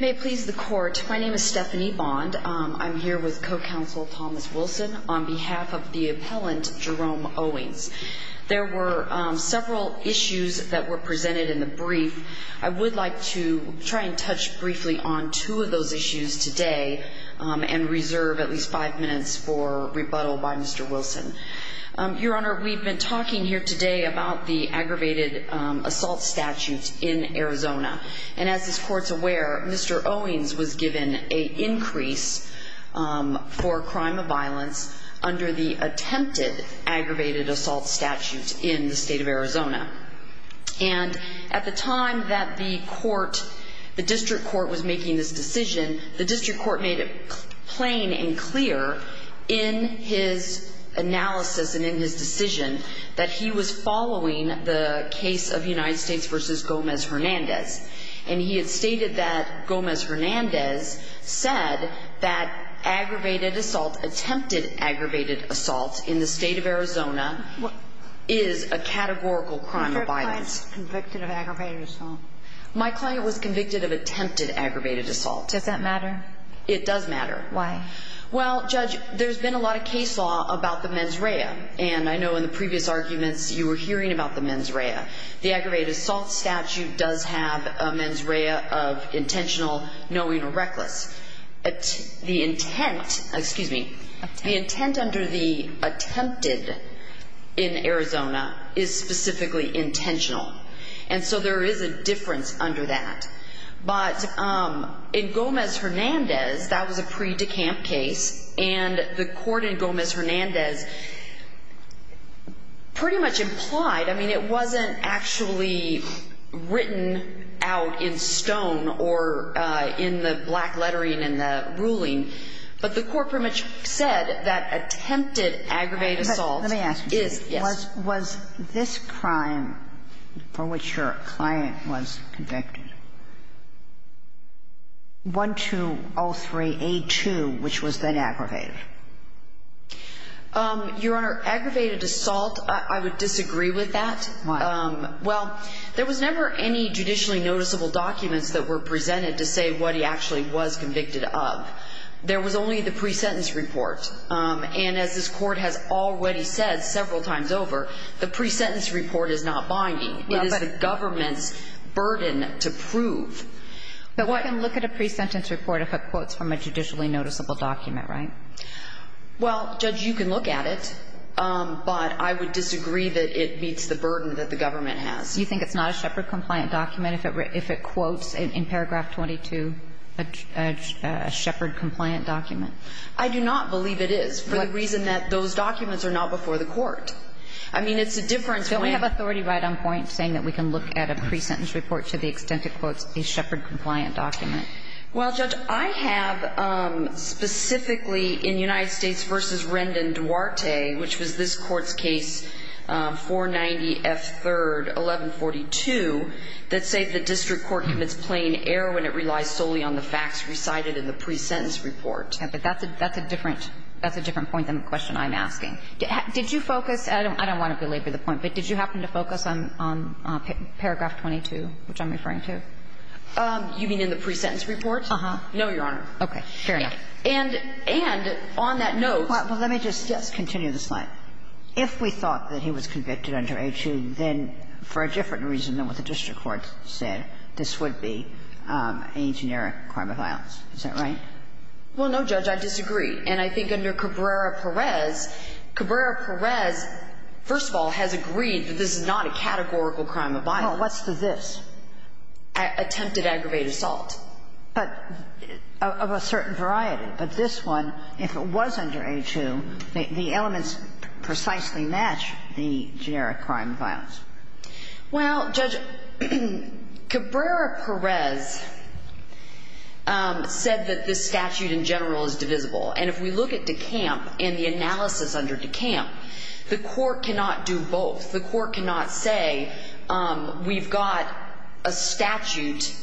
May it please the Court, my name is Stephanie Bond. I'm here with Co-Counsel Thomas Wilson on behalf of the appellant Jerome Owings. There were several issues that were presented in the brief. I would like to try and touch briefly on two of those issues today and reserve at least five minutes for rebuttal by Mr. Wilson. Your Honor, we've been talking here today about the aggravated assault statute in Arizona. And as this Court's aware, Mr. Owings was given an increase for crime of violence under the attempted aggravated assault statute in the state of Arizona. And at the time that the District Court was making this decision, the District Court made it plain and clear in his analysis and in his decision that he was following the case of United States v. Gomez Hernandez. And he had stated that Gomez Hernandez said that aggravated assault, attempted aggravated assault in the state of Arizona is a categorical crime of violence. Your client was convicted of aggravated assault? My client was convicted of attempted aggravated assault. Does that matter? It does matter. Why? Well, Judge, there's been a lot of case law about the mens rea. And I know in the previous arguments you were hearing about the mens rea. The aggravated assault statute does have a mens rea of intentional, knowing, or reckless. The intent, excuse me, the intent under the attempted in Arizona is specifically intentional. And so there is a difference under that. But in Gomez Hernandez, that was a pre-decamp case. And the court in Gomez Hernandez pretty much implied, I mean, it wasn't actually written out in stone or in the black lettering in the ruling. But the court pretty much said that attempted aggravated assault is, yes. Was this crime for which your client was convicted, 1203A2, which was then aggravated? Your Honor, aggravated assault, I would disagree with that. Why? Well, there was never any judicially noticeable documents that were presented to say what he actually was convicted of. There was only the pre-sentence report. And as this Court has already said several times over, the pre-sentence report is not binding. It is the government's burden to prove. But one can look at a pre-sentence report if it quotes from a judicially noticeable document, right? Well, Judge, you can look at it. But I would disagree that it meets the burden that the government has. Do you think it's not a Shepard-compliant document if it quotes in paragraph 22 a Shepard-compliant document? I do not believe it is, for the reason that those documents are not before the court. I mean, it's a difference when we have authority right on point saying that we can look at a pre-sentence report to the extent it quotes a Shepard-compliant document. Well, Judge, I have specifically in United States v. Rendon Duarte, which was this that say the district court commits plain error when it relies solely on the facts recited in the pre-sentence report. Yes, but that's a different point than the question I'm asking. Did you focus – I don't want to belabor the point, but did you happen to focus on paragraph 22, which I'm referring to? You mean in the pre-sentence report? Uh-huh. No, Your Honor. Okay. Fair enough. And on that note – Well, let me just continue the slide. If we thought that he was convicted under A2, then for a different reason than what the district court said, this would be a generic crime of violence. Is that right? Well, no, Judge, I disagree. And I think under Cabrera-Perez, Cabrera-Perez, first of all, has agreed that this is not a categorical crime of violence. Well, what's the this? Attempted aggravated assault. But of a certain variety. But this one, if it was under A2, the elements precisely match the generic crime of violence. Well, Judge, Cabrera-Perez said that this statute in general is divisible. And if we look at DeCamp and the analysis under DeCamp, the court cannot do both. The court cannot say, we've got a statute,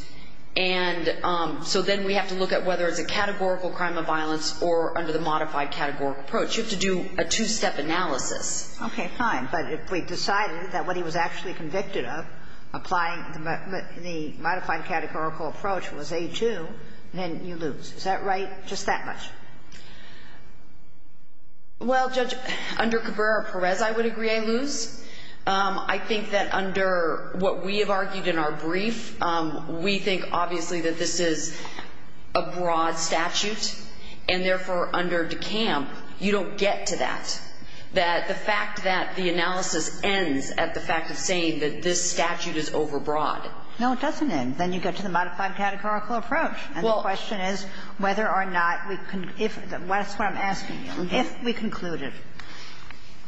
and so then we have to look at whether it's a categorical crime of violence or under the modified categorical approach. You have to do a two-step analysis. Okay, fine. But if we decided that what he was actually convicted of applying the modified categorical approach was A2, then you lose. Is that right? Just that much? Well, Judge, under Cabrera-Perez, I would agree I lose. I think that under what we have argued in our brief, we think obviously that this is a broad statute, and therefore, under DeCamp, you don't get to that, that the fact that the analysis ends at the fact of saying that this statute is overbroad. No, it doesn't end. Then you get to the modified categorical approach. And the question is whether or not we can – that's what I'm asking you. If we concluded,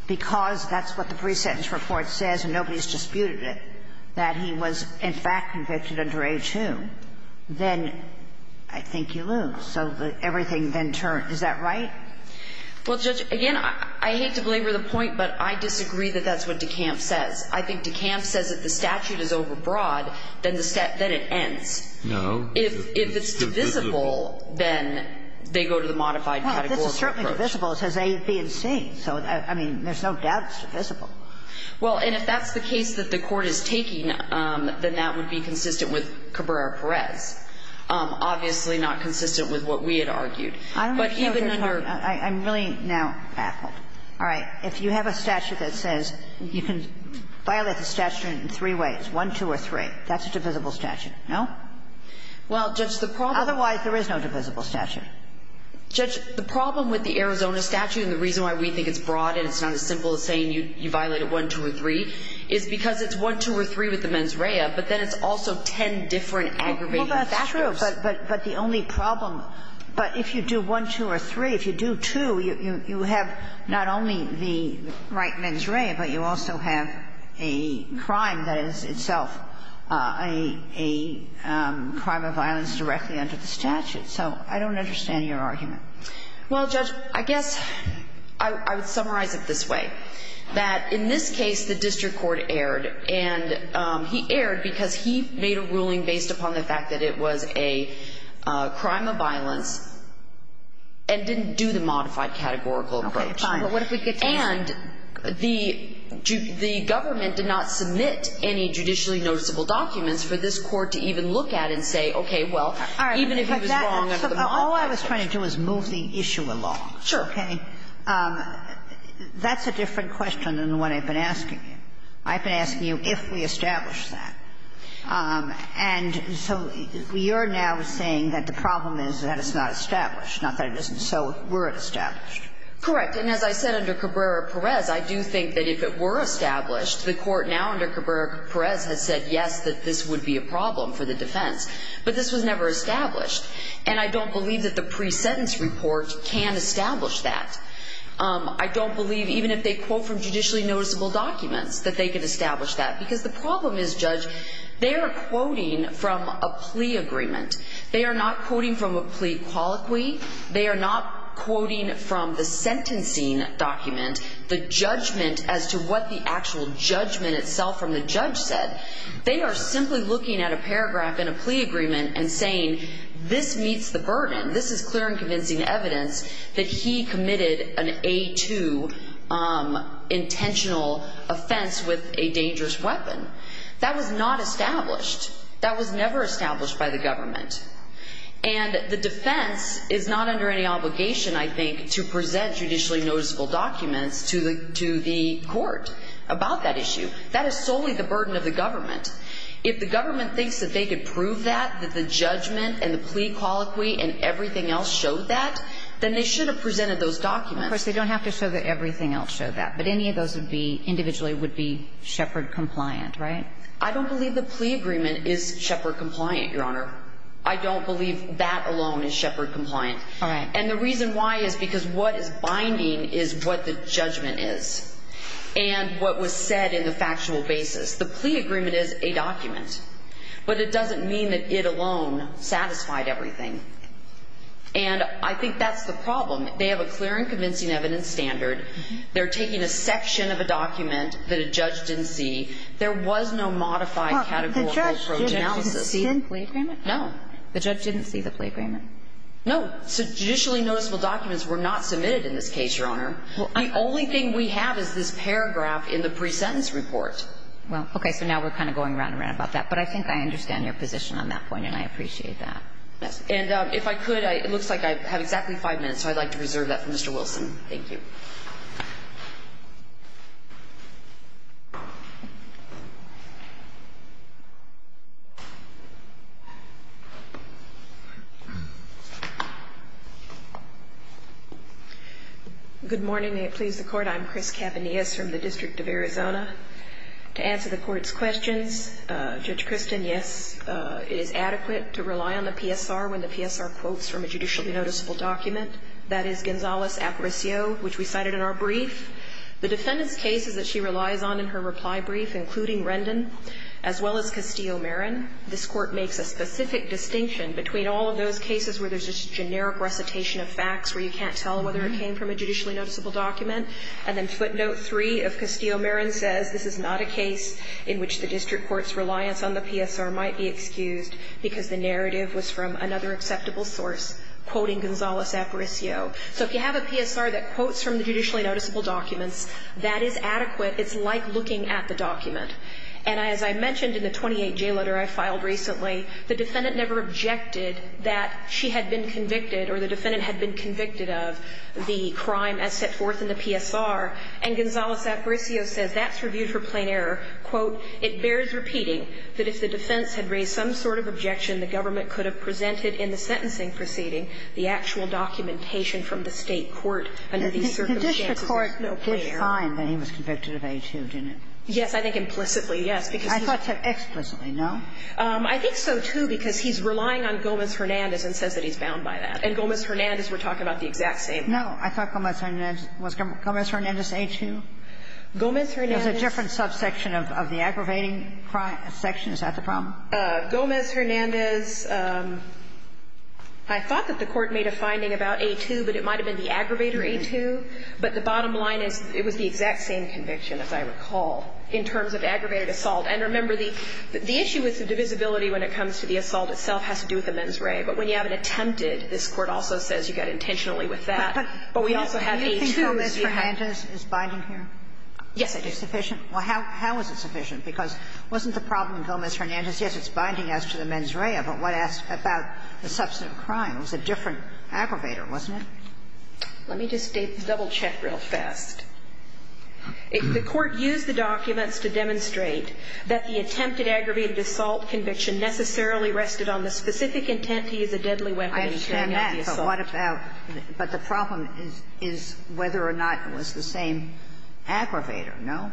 because that's what the pre-sentence report says and nobody's disputed it, that he was in fact convicted under A2, then I think you lose. So everything then turns. Is that right? Well, Judge, again, I hate to belabor the point, but I disagree that that's what DeCamp says. I think DeCamp says if the statute is overbroad, then it ends. No. If it's divisible, then they go to the modified categorical approach. Well, it's certainly divisible. It says A, B, and C. So, I mean, there's no doubt it's divisible. Well, and if that's the case that the Court is taking, then that would be consistent with Cabrera-Perez. Obviously not consistent with what we had argued. But even under – I'm really now baffled. All right. If you have a statute that says you can violate the statute in three ways, 1, 2, or 3, that's a divisible statute. No? Well, Judge, the problem – Otherwise, there is no divisible statute. Judge, the problem with the Arizona statute and the reason why we think it's broad and it's not as simple as saying you violate it 1, 2, or 3 is because it's 1, 2, or 3 with the mens rea, but then it's also ten different aggravated factors. Well, that's true. But the only problem – but if you do 1, 2, or 3, if you do 2, you have not only the right mens rea, but you also have a crime that is itself a crime of violence directly under the statute. So I don't understand your argument. Well, Judge, I guess I would summarize it this way, that in this case the district court erred. And he erred because he made a ruling based upon the fact that it was a crime of violence and didn't do the modified categorical approach. And he erred because he made a ruling based upon the fact that it was a crime fact that it was a crime of violence. And the government did not submit any judicially noticeable documents for this court to even look at and say, okay, well, even if he was wrong under the modified category. All I was trying to do is move the issue along. Okay. That's a different question than what I've been asking you. I've been asking you if we established that. And so you're now saying that the problem is that it's not established, not that it isn't. So were it established? Correct. And as I said under Cabrera-Perez, I do think that if it were established, the court now under Cabrera-Perez has said, yes, that this would be a problem for the defense. But this was never established. And I don't believe that the pre-sentence report can establish that. I don't believe even if they quote from judicially noticeable documents that they could establish that. Because the problem is, Judge, they are quoting from a plea agreement. They are not quoting from a plea colloquy. They are not quoting from the sentencing document, the judgment as to what the actual judgment itself from the judge said. They are simply looking at a paragraph in a plea agreement and saying, this meets the burden. This is clear and convincing evidence that he committed an A-2 intentional offense with a dangerous weapon. That was not established. That was never established by the government. And the defense is not under any obligation, I think, to present judicially noticeable documents to the court about that issue. That is solely the burden of the government. If the government thinks that they could prove that, that the judgment and the plea colloquy and everything else showed that, then they should have presented those documents. Of course, they don't have to show that everything else showed that. But any of those individually would be Shepard-compliant, right? I don't believe the plea agreement is Shepard-compliant, Your Honor. I don't believe that alone is Shepard-compliant. All right. And the reason why is because what is binding is what the judgment is. And what was said in the factual basis. The plea agreement is a document. But it doesn't mean that it alone satisfied everything. And I think that's the problem. They have a clear and convincing evidence standard. They're taking a section of a document that a judge didn't see. There was no modified categorical progeny analysis. The judge didn't see the plea agreement? No. The judge didn't see the plea agreement? No. Judicially noticeable documents were not submitted in this case, Your Honor. The only thing we have is this paragraph in the pre-sentence report. Well, okay. So now we're kind of going around and around about that. But I think I understand your position on that point, and I appreciate that. Yes. And if I could, it looks like I have exactly five minutes, so I'd like to reserve that for Mr. Wilson. Thank you. Good morning. May it please the Court. I'm Chris Cavanias from the District of Arizona. To answer the Court's questions, Judge Kristin, yes, it is adequate to rely on the PSR when the PSR quotes from a judicially noticeable document. That is Gonzales-Apricio, which we cited in our pre-sentence report. It is not subject to judicial review. The defendant's case is that she relies on, in her reply brief, including Rendon as well as Castillo-Marin. This Court makes a specific distinction between all of those cases where there's just a generic recitation of facts where you can't tell whether it came from a judicially noticeable document, and then footnote 3 of Castillo-Marin says this is not a case in which the district court's reliance on the PSR might be excused because the narrative was from another acceptable source, quoting Gonzales-Apricio. So if you have a PSR that quotes from the judicially noticeable documents, that is adequate. It's like looking at the document. And as I mentioned in the 28-J letter I filed recently, the defendant never objected that she had been convicted or the defendant had been convicted of the crime as set forth in the PSR, and Gonzales-Apricio says that's reviewed for plain error. Quote, it bears repeating that if the defense had raised some sort of objection the government could have presented in the sentencing proceeding the actual documentation from the State court under these circumstances is no plain error. Kagan. And the district court did find that he was convicted of A-2, didn't it? Yes. I think implicitly, yes. I thought so. Explicitly, no? I think so, too, because he's relying on Gomez-Hernandez and says that he's bound by that. And Gomez-Hernandez, we're talking about the exact same thing. No. I thought Gomez-Hernandez was Gomez-Hernandez A-2. Gomez-Hernandez. There's a different subsection of the aggravating section. Is that the problem? Gomez-Hernandez. I thought that the Court made a finding about A-2, but it might have been the aggravator A-2, but the bottom line is it was the exact same conviction, as I recall, in terms of aggravated assault. And remember, the issue with the divisibility when it comes to the assault itself has to do with the mens rea, but when you have an attempted, this Court also says you got intentionally with that. But we also have A-2s. Do you think Gomez-Hernandez is binding here? Yes, I do. Is it sufficient? Well, how is it sufficient? Because wasn't the problem in Gomez-Hernandez, yes, it's binding as to the mens rea, but what about the substantive crime? It was a different aggravator, wasn't it? Let me just double-check real fast. The Court used the documents to demonstrate that the attempted aggravated assault conviction necessarily rested on the specific intent to use a deadly weapon in carrying out the assault. I understand that, but what about the problem is whether or not it was the same aggravator, no?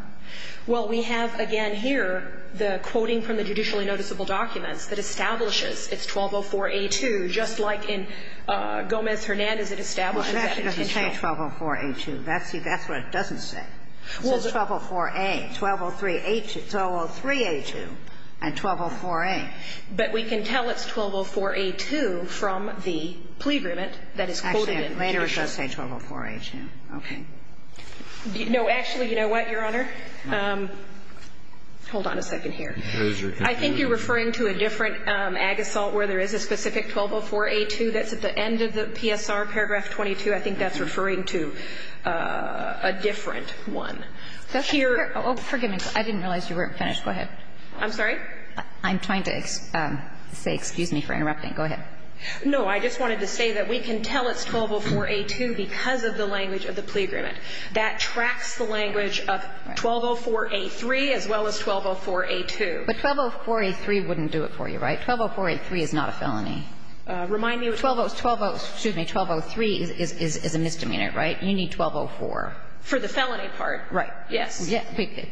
Well, we have again here the quoting from the judicially noticeable documents that establishes it's 1204-A-2, just like in Gomez-Hernandez, it establishes that intention. Well, it actually doesn't say 1204-A-2. That's what it doesn't say. It says 1204-A, 1203-A2, and 1204-A. But we can tell it's 1204-A-2 from the plea agreement that is quoted in the judicial document. Actually, later it does say 1204-A-2. Okay. No, actually, you know what, Your Honor? Hold on a second here. I think you're referring to a different ag assault where there is a specific 1204-A-2 that's at the end of the PSR, paragraph 22. I think that's referring to a different one. Here. Oh, forgive me. I didn't realize you weren't finished. Go ahead. I'm sorry? I'm trying to say excuse me for interrupting. Go ahead. No, I just wanted to say that we can tell it's 1204-A-2 because of the language of the plea agreement. That tracks the language of 1204-A-3 as well as 1204-A-2. But 1204-A-3 wouldn't do it for you, right? 1204-A-3 is not a felony. Remind me. 1203 is a misdemeanor, right? You need 1204. For the felony part, right. Yes.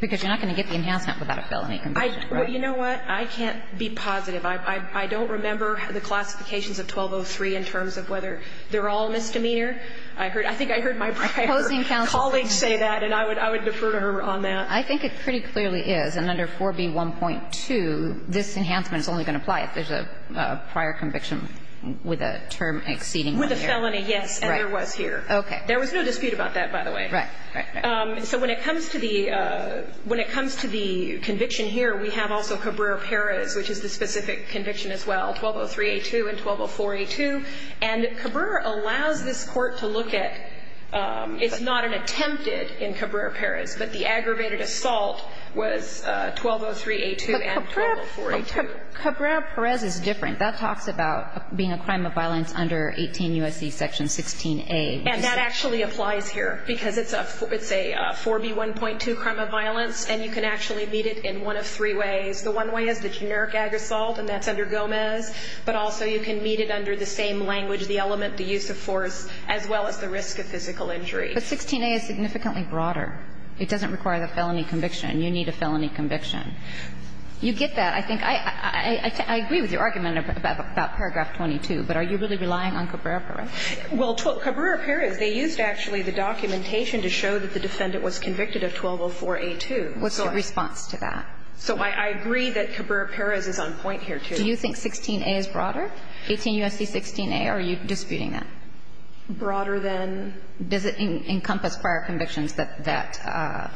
Because you're not going to get the enhancement without a felony conviction, right? Well, you know what? I can't be positive. I don't remember the classifications of 1203 in terms of whether they're all a misdemeanor. I think I heard my prior colleague say that, and I would defer to her on that. I think it pretty clearly is. And under 4B1.2, this enhancement is only going to apply if there's a prior conviction with a term exceeding one year. With a felony, yes. Right. And there was here. Okay. There was no dispute about that, by the way. Right. Right. So when it comes to the conviction here, we have also Cabrera-Perez, which is the specific conviction as well, 1203-A-2 and 1204-A-2. And Cabrera allows this Court to look at it's not an attempted in Cabrera-Perez, but the aggravated assault was 1203-A-2 and 1204-A-2. But Cabrera-Perez is different. That talks about being a crime of violence under 18 U.S.C. Section 16A. And that actually applies here because it's a 4B1.2 crime of violence, and you can actually meet it in one of three ways. The one way is the generic ag assault, and that's under Gomez. But also you can meet it under the same language, the element, the use of force, as well as the risk of physical injury. But 16A is significantly broader. It doesn't require the felony conviction. You need a felony conviction. You get that. I think I agree with your argument about paragraph 22, but are you really relying on Cabrera-Perez? Well, Cabrera-Perez, they used actually the documentation to show that the defendant was convicted of 1204-A-2. What's your response to that? So I agree that Cabrera-Perez is on point here, too. Do you think 16A is broader, 18 U.S.C. 16A, or are you disputing that? Broader than? Does it encompass prior convictions that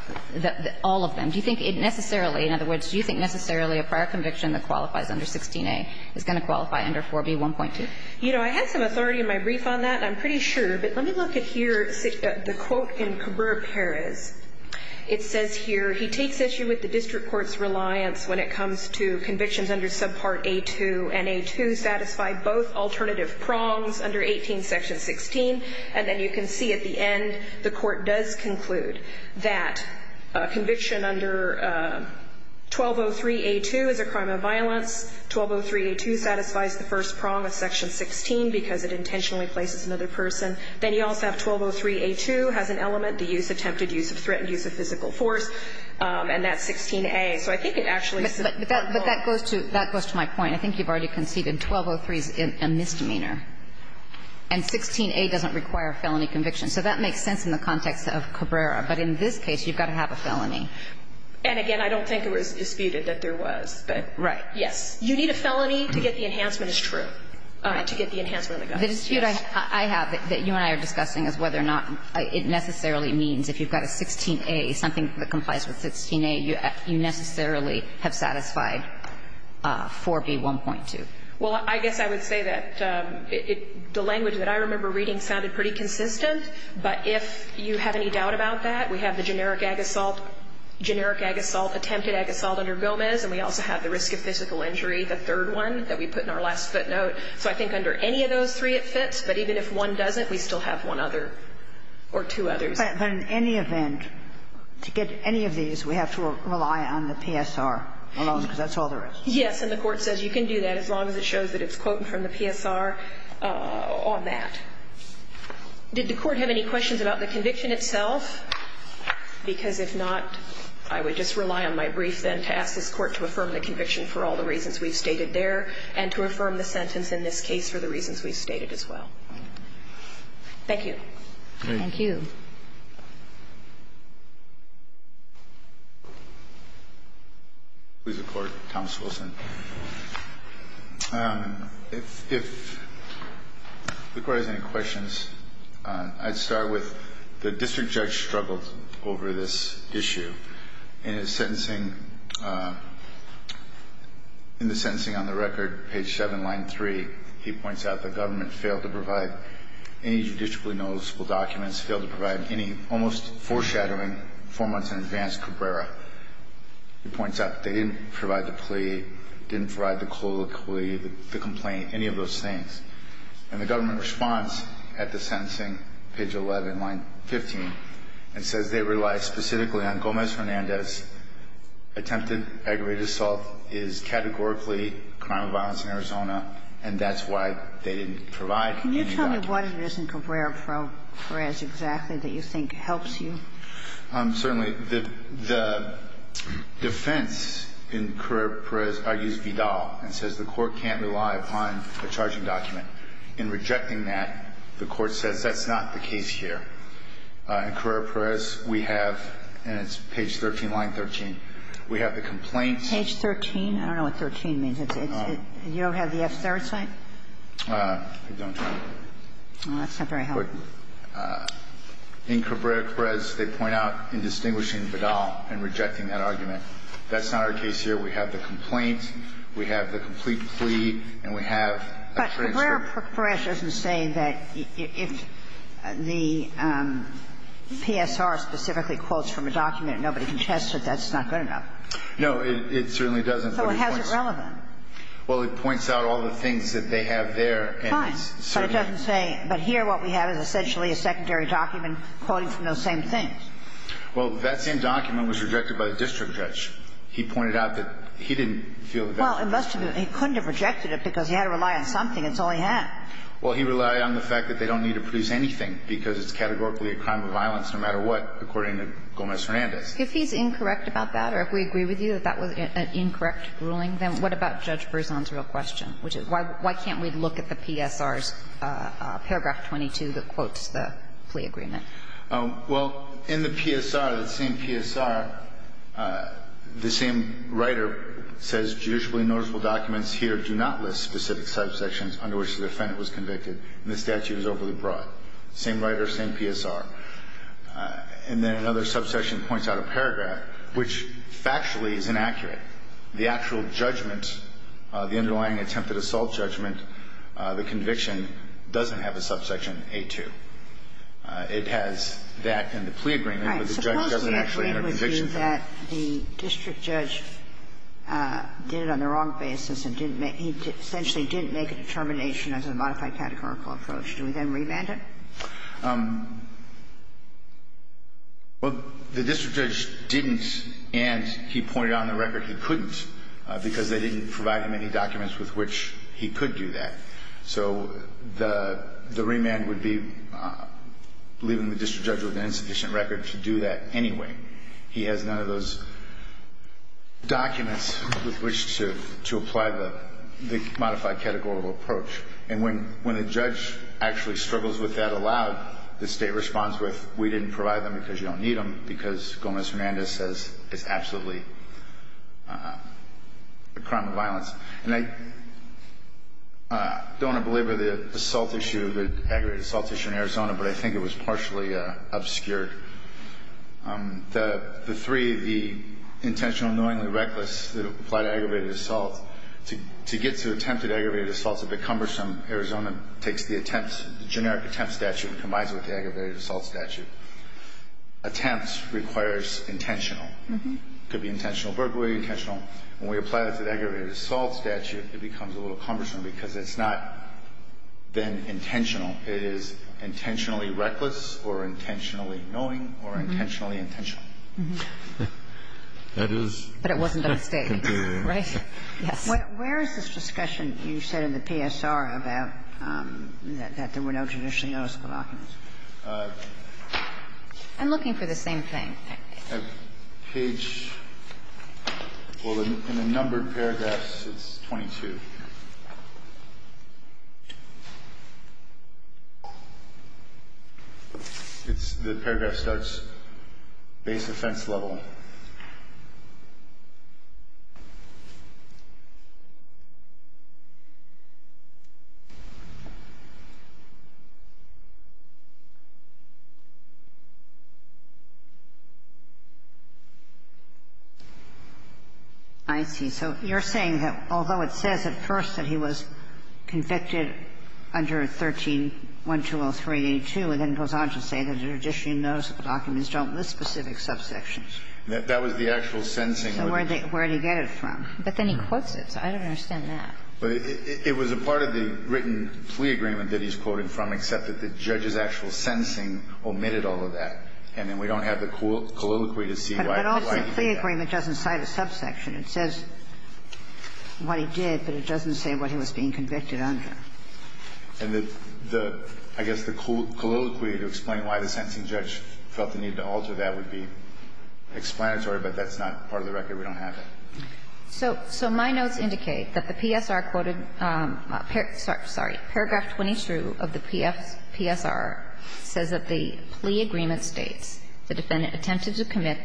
all of them? Do you think it necessarily, in other words, do you think necessarily a prior conviction that qualifies under 16A is going to qualify under 4B1.2? You know, I had some authority in my brief on that, and I'm pretty sure. But let me look at here the quote in Cabrera-Perez. It says here, he takes issue with the district court's reliance when it comes to convictions under subpart A-2, and A-2 satisfied both alternative prongs under 18 section 16. And then you can see at the end the court does conclude that a conviction under 1203-A-2 is a crime of violence. 1203-A-2 satisfies the first prong of section 16 because it intentionally places another person. Then you also have 1203-A-2 has an element, the use attempted, use of threat, use of physical force. And that's 16A. So I think it actually supports both. But that goes to my point. I think you've already conceded 1203 is a misdemeanor. And 16A doesn't require a felony conviction. So that makes sense in the context of Cabrera. But in this case, you've got to have a felony. And, again, I don't think it was disputed that there was. Right. Yes. You need a felony to get the enhancement is true, to get the enhancement of the guns. The dispute I have that you and I are discussing is whether or not it necessarily means if you've got a 16A, something that complies with 16A, you necessarily have satisfied 4B1.2. Well, I guess I would say that the language that I remember reading sounded pretty consistent. But if you have any doubt about that, we have the generic ag assault, generic ag assault, attempted ag assault under Gomez, and we also have the risk of physical injury, the third one that we put in our last footnote. So I think under any of those three it fits. But even if one doesn't, we still have one other or two others. But in any event, to get any of these, we have to rely on the PSR alone, because that's all there is. Yes. And the Court says you can do that as long as it shows that it's quoted from the PSR on that. Did the Court have any questions about the conviction itself? Because if not, I would just rely on my brief, then, to ask this Court to affirm the conviction for all the reasons we've stated there and to affirm the sentence in this case for the reasons we've stated as well. Thank you. Thank you. Please, the Court. Thomas Wilson. If the Court has any questions, I'd start with the district judge struggled over this issue. In his sentencing, in the sentencing on the record, page 7, line 3, he points out that the government failed to provide any judicially noticeable documents, failed to provide any almost foreshadowing, four months in advance, Cabrera. He points out that they didn't provide the plea, didn't provide the colloquy, the complaint, any of those things. And the government response at the sentencing, page 11, line 15, it says they rely specifically on Gomez-Hernandez. Attempted aggravated assault is categorically a crime of violence in Arizona, and that's why they didn't provide any documents. Can you tell me what it is in Cabrera-Perez exactly that you think helps you? Certainly, the defense in Cabrera-Perez argues Vidal and says the Court can't rely upon a charging document. In rejecting that, the Court says that's not the case here. In Cabrera-Perez, we have, and it's page 13, line 13, we have the complaints. Page 13? I don't know what 13 means. You don't have the F-third sign? I don't. Well, that's not very helpful. In Cabrera-Perez, they point out in distinguishing Vidal and rejecting that argument. That's not our case here. We have the complaint. We have the complete plea. And we have a transcript. But Cabrera-Perez doesn't say that if the PSR specifically quotes from a document nobody can test it, that's not good enough. No, it certainly doesn't. So how is it relevant? Well, it points out all the things that they have there. Fine. But it doesn't say. But here what we have is essentially a secondary document quoting from those same things. Well, that same document was rejected by the district judge. He pointed out that he didn't feel that that was relevant. Well, it must have been. He couldn't have rejected it because he had to rely on something. That's all he had. Well, he relied on the fact that they don't need to produce anything because it's categorically a crime of violence no matter what, according to Gomez-Hernandez. If he's incorrect about that, or if we agree with you that that was an incorrect ruling, then what about Judge Berzon's real question, which is why can't we look at the PSR's paragraph 22 that quotes the plea agreement? Well, in the PSR, that same PSR, the same writer says judicially noticeable documents here do not list specific subsections under which the defendant was convicted, and the statute is overly broad. Same writer, same PSR. And then another subsection points out a paragraph which factually is inaccurate. The actual judgment, the underlying attempted assault judgment, the conviction doesn't have a subsection A-2. It has that and the plea agreement, but the judge doesn't actually have a conviction for it. Right. Suppose we agree with you that the district judge did it on the wrong basis and didn't make he essentially didn't make a determination as a modified categorical approach. Do we then remand it? Well, the district judge didn't, and he pointed out on the record he couldn't, because they didn't provide him any documents with which he could do that. So the remand would be leaving the district judge with an insufficient record to do that anyway. He has none of those documents with which to apply the modified categorical approach. And when a judge actually struggles with that aloud, the state responds with, we didn't provide them because you don't need them, because Gomez-Hernandez says it's absolutely a crime of violence. And I don't want to belabor the assault issue, the aggravated assault issue in Arizona, but I think it was partially obscured. The three, the intentional, knowingly reckless that applied aggravated assault, to get to attempted aggravated assault is a bit cumbersome. Arizona takes the generic attempt statute and combines it with the aggravated assault statute. Attempts requires intentional. It could be intentional burglary, intentional. When we apply that to the aggravated assault statute, it becomes a little cumbersome because it's not then intentional. It is intentionally reckless or intentionally knowing or intentionally intentional. And I think that's a mistake. That is a mistake. But it wasn't a mistake, right? Yes. Where is this discussion you said in the PSR about that there were no judicially noticeable documents? I'm looking for the same thing. Page. Well, in the numbered paragraphs, it's 22. It's the paragraph starts base offense level. I see. So you're saying that although it says at first that he was convicted under 13-1203 82, it then goes on to say that judicially noticeable documents don't list specific subsections. That was the actual sentencing. So where did he get it from? But then he quotes it. So I don't understand that. It was a part of the written plea agreement that he's quoting from, except that the judge's actual sentencing omitted all of that. And then we don't have the colloquy to see why he did that. The plea agreement doesn't cite a subsection. It says what he did, but it doesn't say what he was being convicted under. And the – I guess the colloquy to explain why the sentencing judge felt the need to alter that would be explanatory, but that's not part of the record. We don't have that. So my notes indicate that the PSR quoted – sorry. Paragraph 22 of the PSR says that the plea agreement states the defendant attempted to commit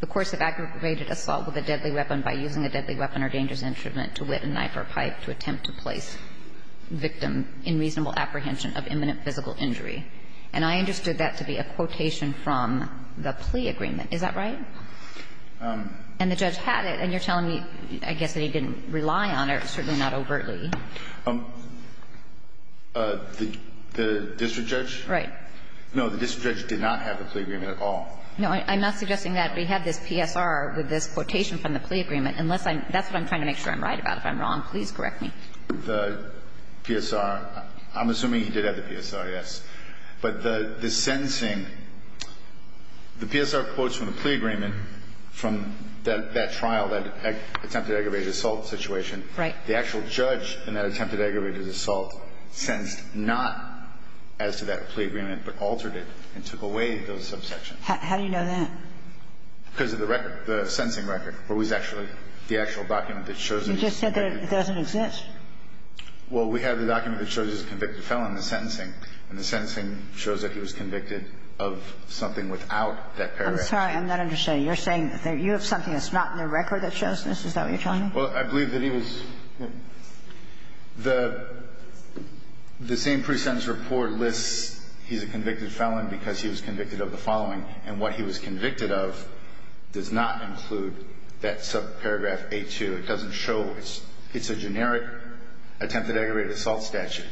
the course of aggravated assault with a deadly weapon by using a deadly weapon or dangerous instrument to whet a knife or pipe to attempt to place victim in reasonable apprehension of imminent physical injury. And I understood that to be a quotation from the plea agreement. Is that right? And the judge had it, and you're telling me, I guess, that he didn't rely on it, certainly not overtly. The district judge? Right. No, the district judge did not have the plea agreement at all. No, I'm not suggesting that. We had this PSR with this quotation from the plea agreement, unless I'm – that's what I'm trying to make sure I'm right about. If I'm wrong, please correct me. The PSR – I'm assuming he did have the PSR, yes. But the sentencing – the PSR quotes from the plea agreement from that trial, that attempted aggravated assault situation. Right. The actual judge in that attempted aggravated assault sentenced not as to that plea agreement, but altered it and took away those subsections. How do you know that? Because of the record, the sentencing record, where he's actually – the actual document that shows that he's convicted. You just said that it doesn't exist. Well, we have the document that shows he's a convicted felon in the sentencing, and the sentencing shows that he was convicted of something without that paragraph. I'm sorry. I'm not understanding. You're saying that you have something that's not in the record that shows this? Is that what you're telling me? Well, I believe that he was – the same pre-sentence report lists he's a convicted felon because he was convicted of the following, and what he was convicted of does not include that subparagraph A-2. It doesn't show – it's a generic attempted aggravated assault statute.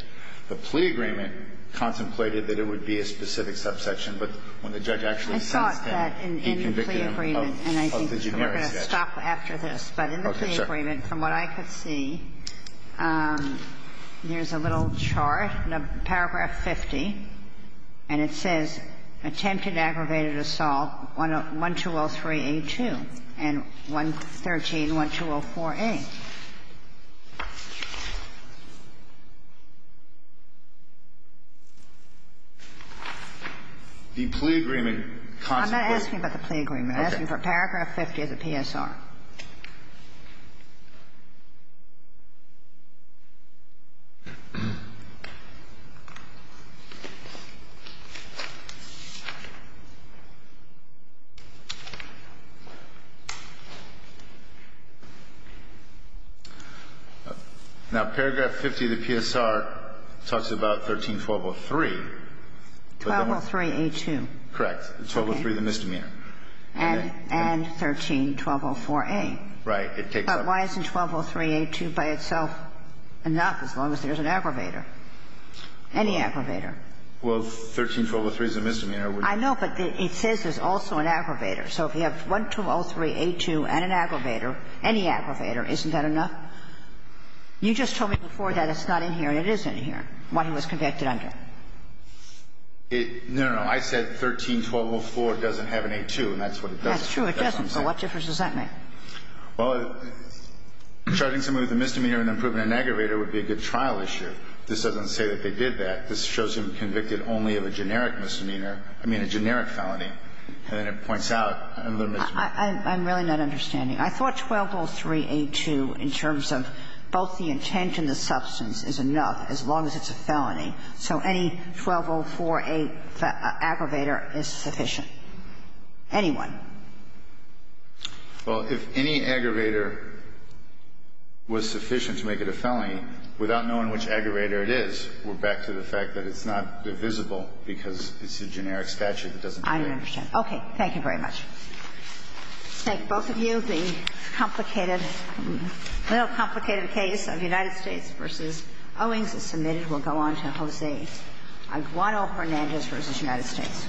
The plea agreement contemplated that it would be a specific subsection, but when the judge actually sentenced him, he convicted him of the generic statute. Let me stop after this. Okay. Sure. But in the plea agreement, from what I could see, there's a little chart in paragraph 50, and it says attempted aggravated assault 1203A-2 and 113-1204A. The plea agreement contemplated – I'm not asking about the plea agreement. I'm asking for paragraph 50 of the PSR. Now, paragraph 50 of the PSR talks about 13-1203. 1203A-2. Correct. 1203, the misdemeanor. And 13-1204A. Right. But why isn't 1203A-2 by itself enough as long as there's an aggravator, any aggravator? Well, 13-1203 is a misdemeanor. I know, but it says there's also an aggravator. So if you have 1203A-2 and an aggravator, any aggravator, isn't that enough? You just told me before that it's not in here. It is in here, what he was convicted under. No, no, no. I said 13-1204 doesn't have an A-2, and that's what it does. That's true. It doesn't. So what difference does that make? Well, charging somebody with a misdemeanor and then proving an aggravator would be a good trial issue. This doesn't say that they did that. This shows him convicted only of a generic misdemeanor, I mean, a generic felony. And then it points out a little misdemeanor. I'm really not understanding. I thought 1203A-2 in terms of both the intent and the substance is enough as long as it's a felony. So any 1204A aggravator is sufficient. Any one. Well, if any aggravator was sufficient to make it a felony, without knowing which aggravator it is, we're back to the fact that it's not divisible because it's a generic statute that doesn't do that. I don't understand. Okay. Thank you very much. Let's thank both of you. The complicated, a little complicated case of United States v. Owings is submitted. We'll go on to Jose Aguado-Hernandez v. United States.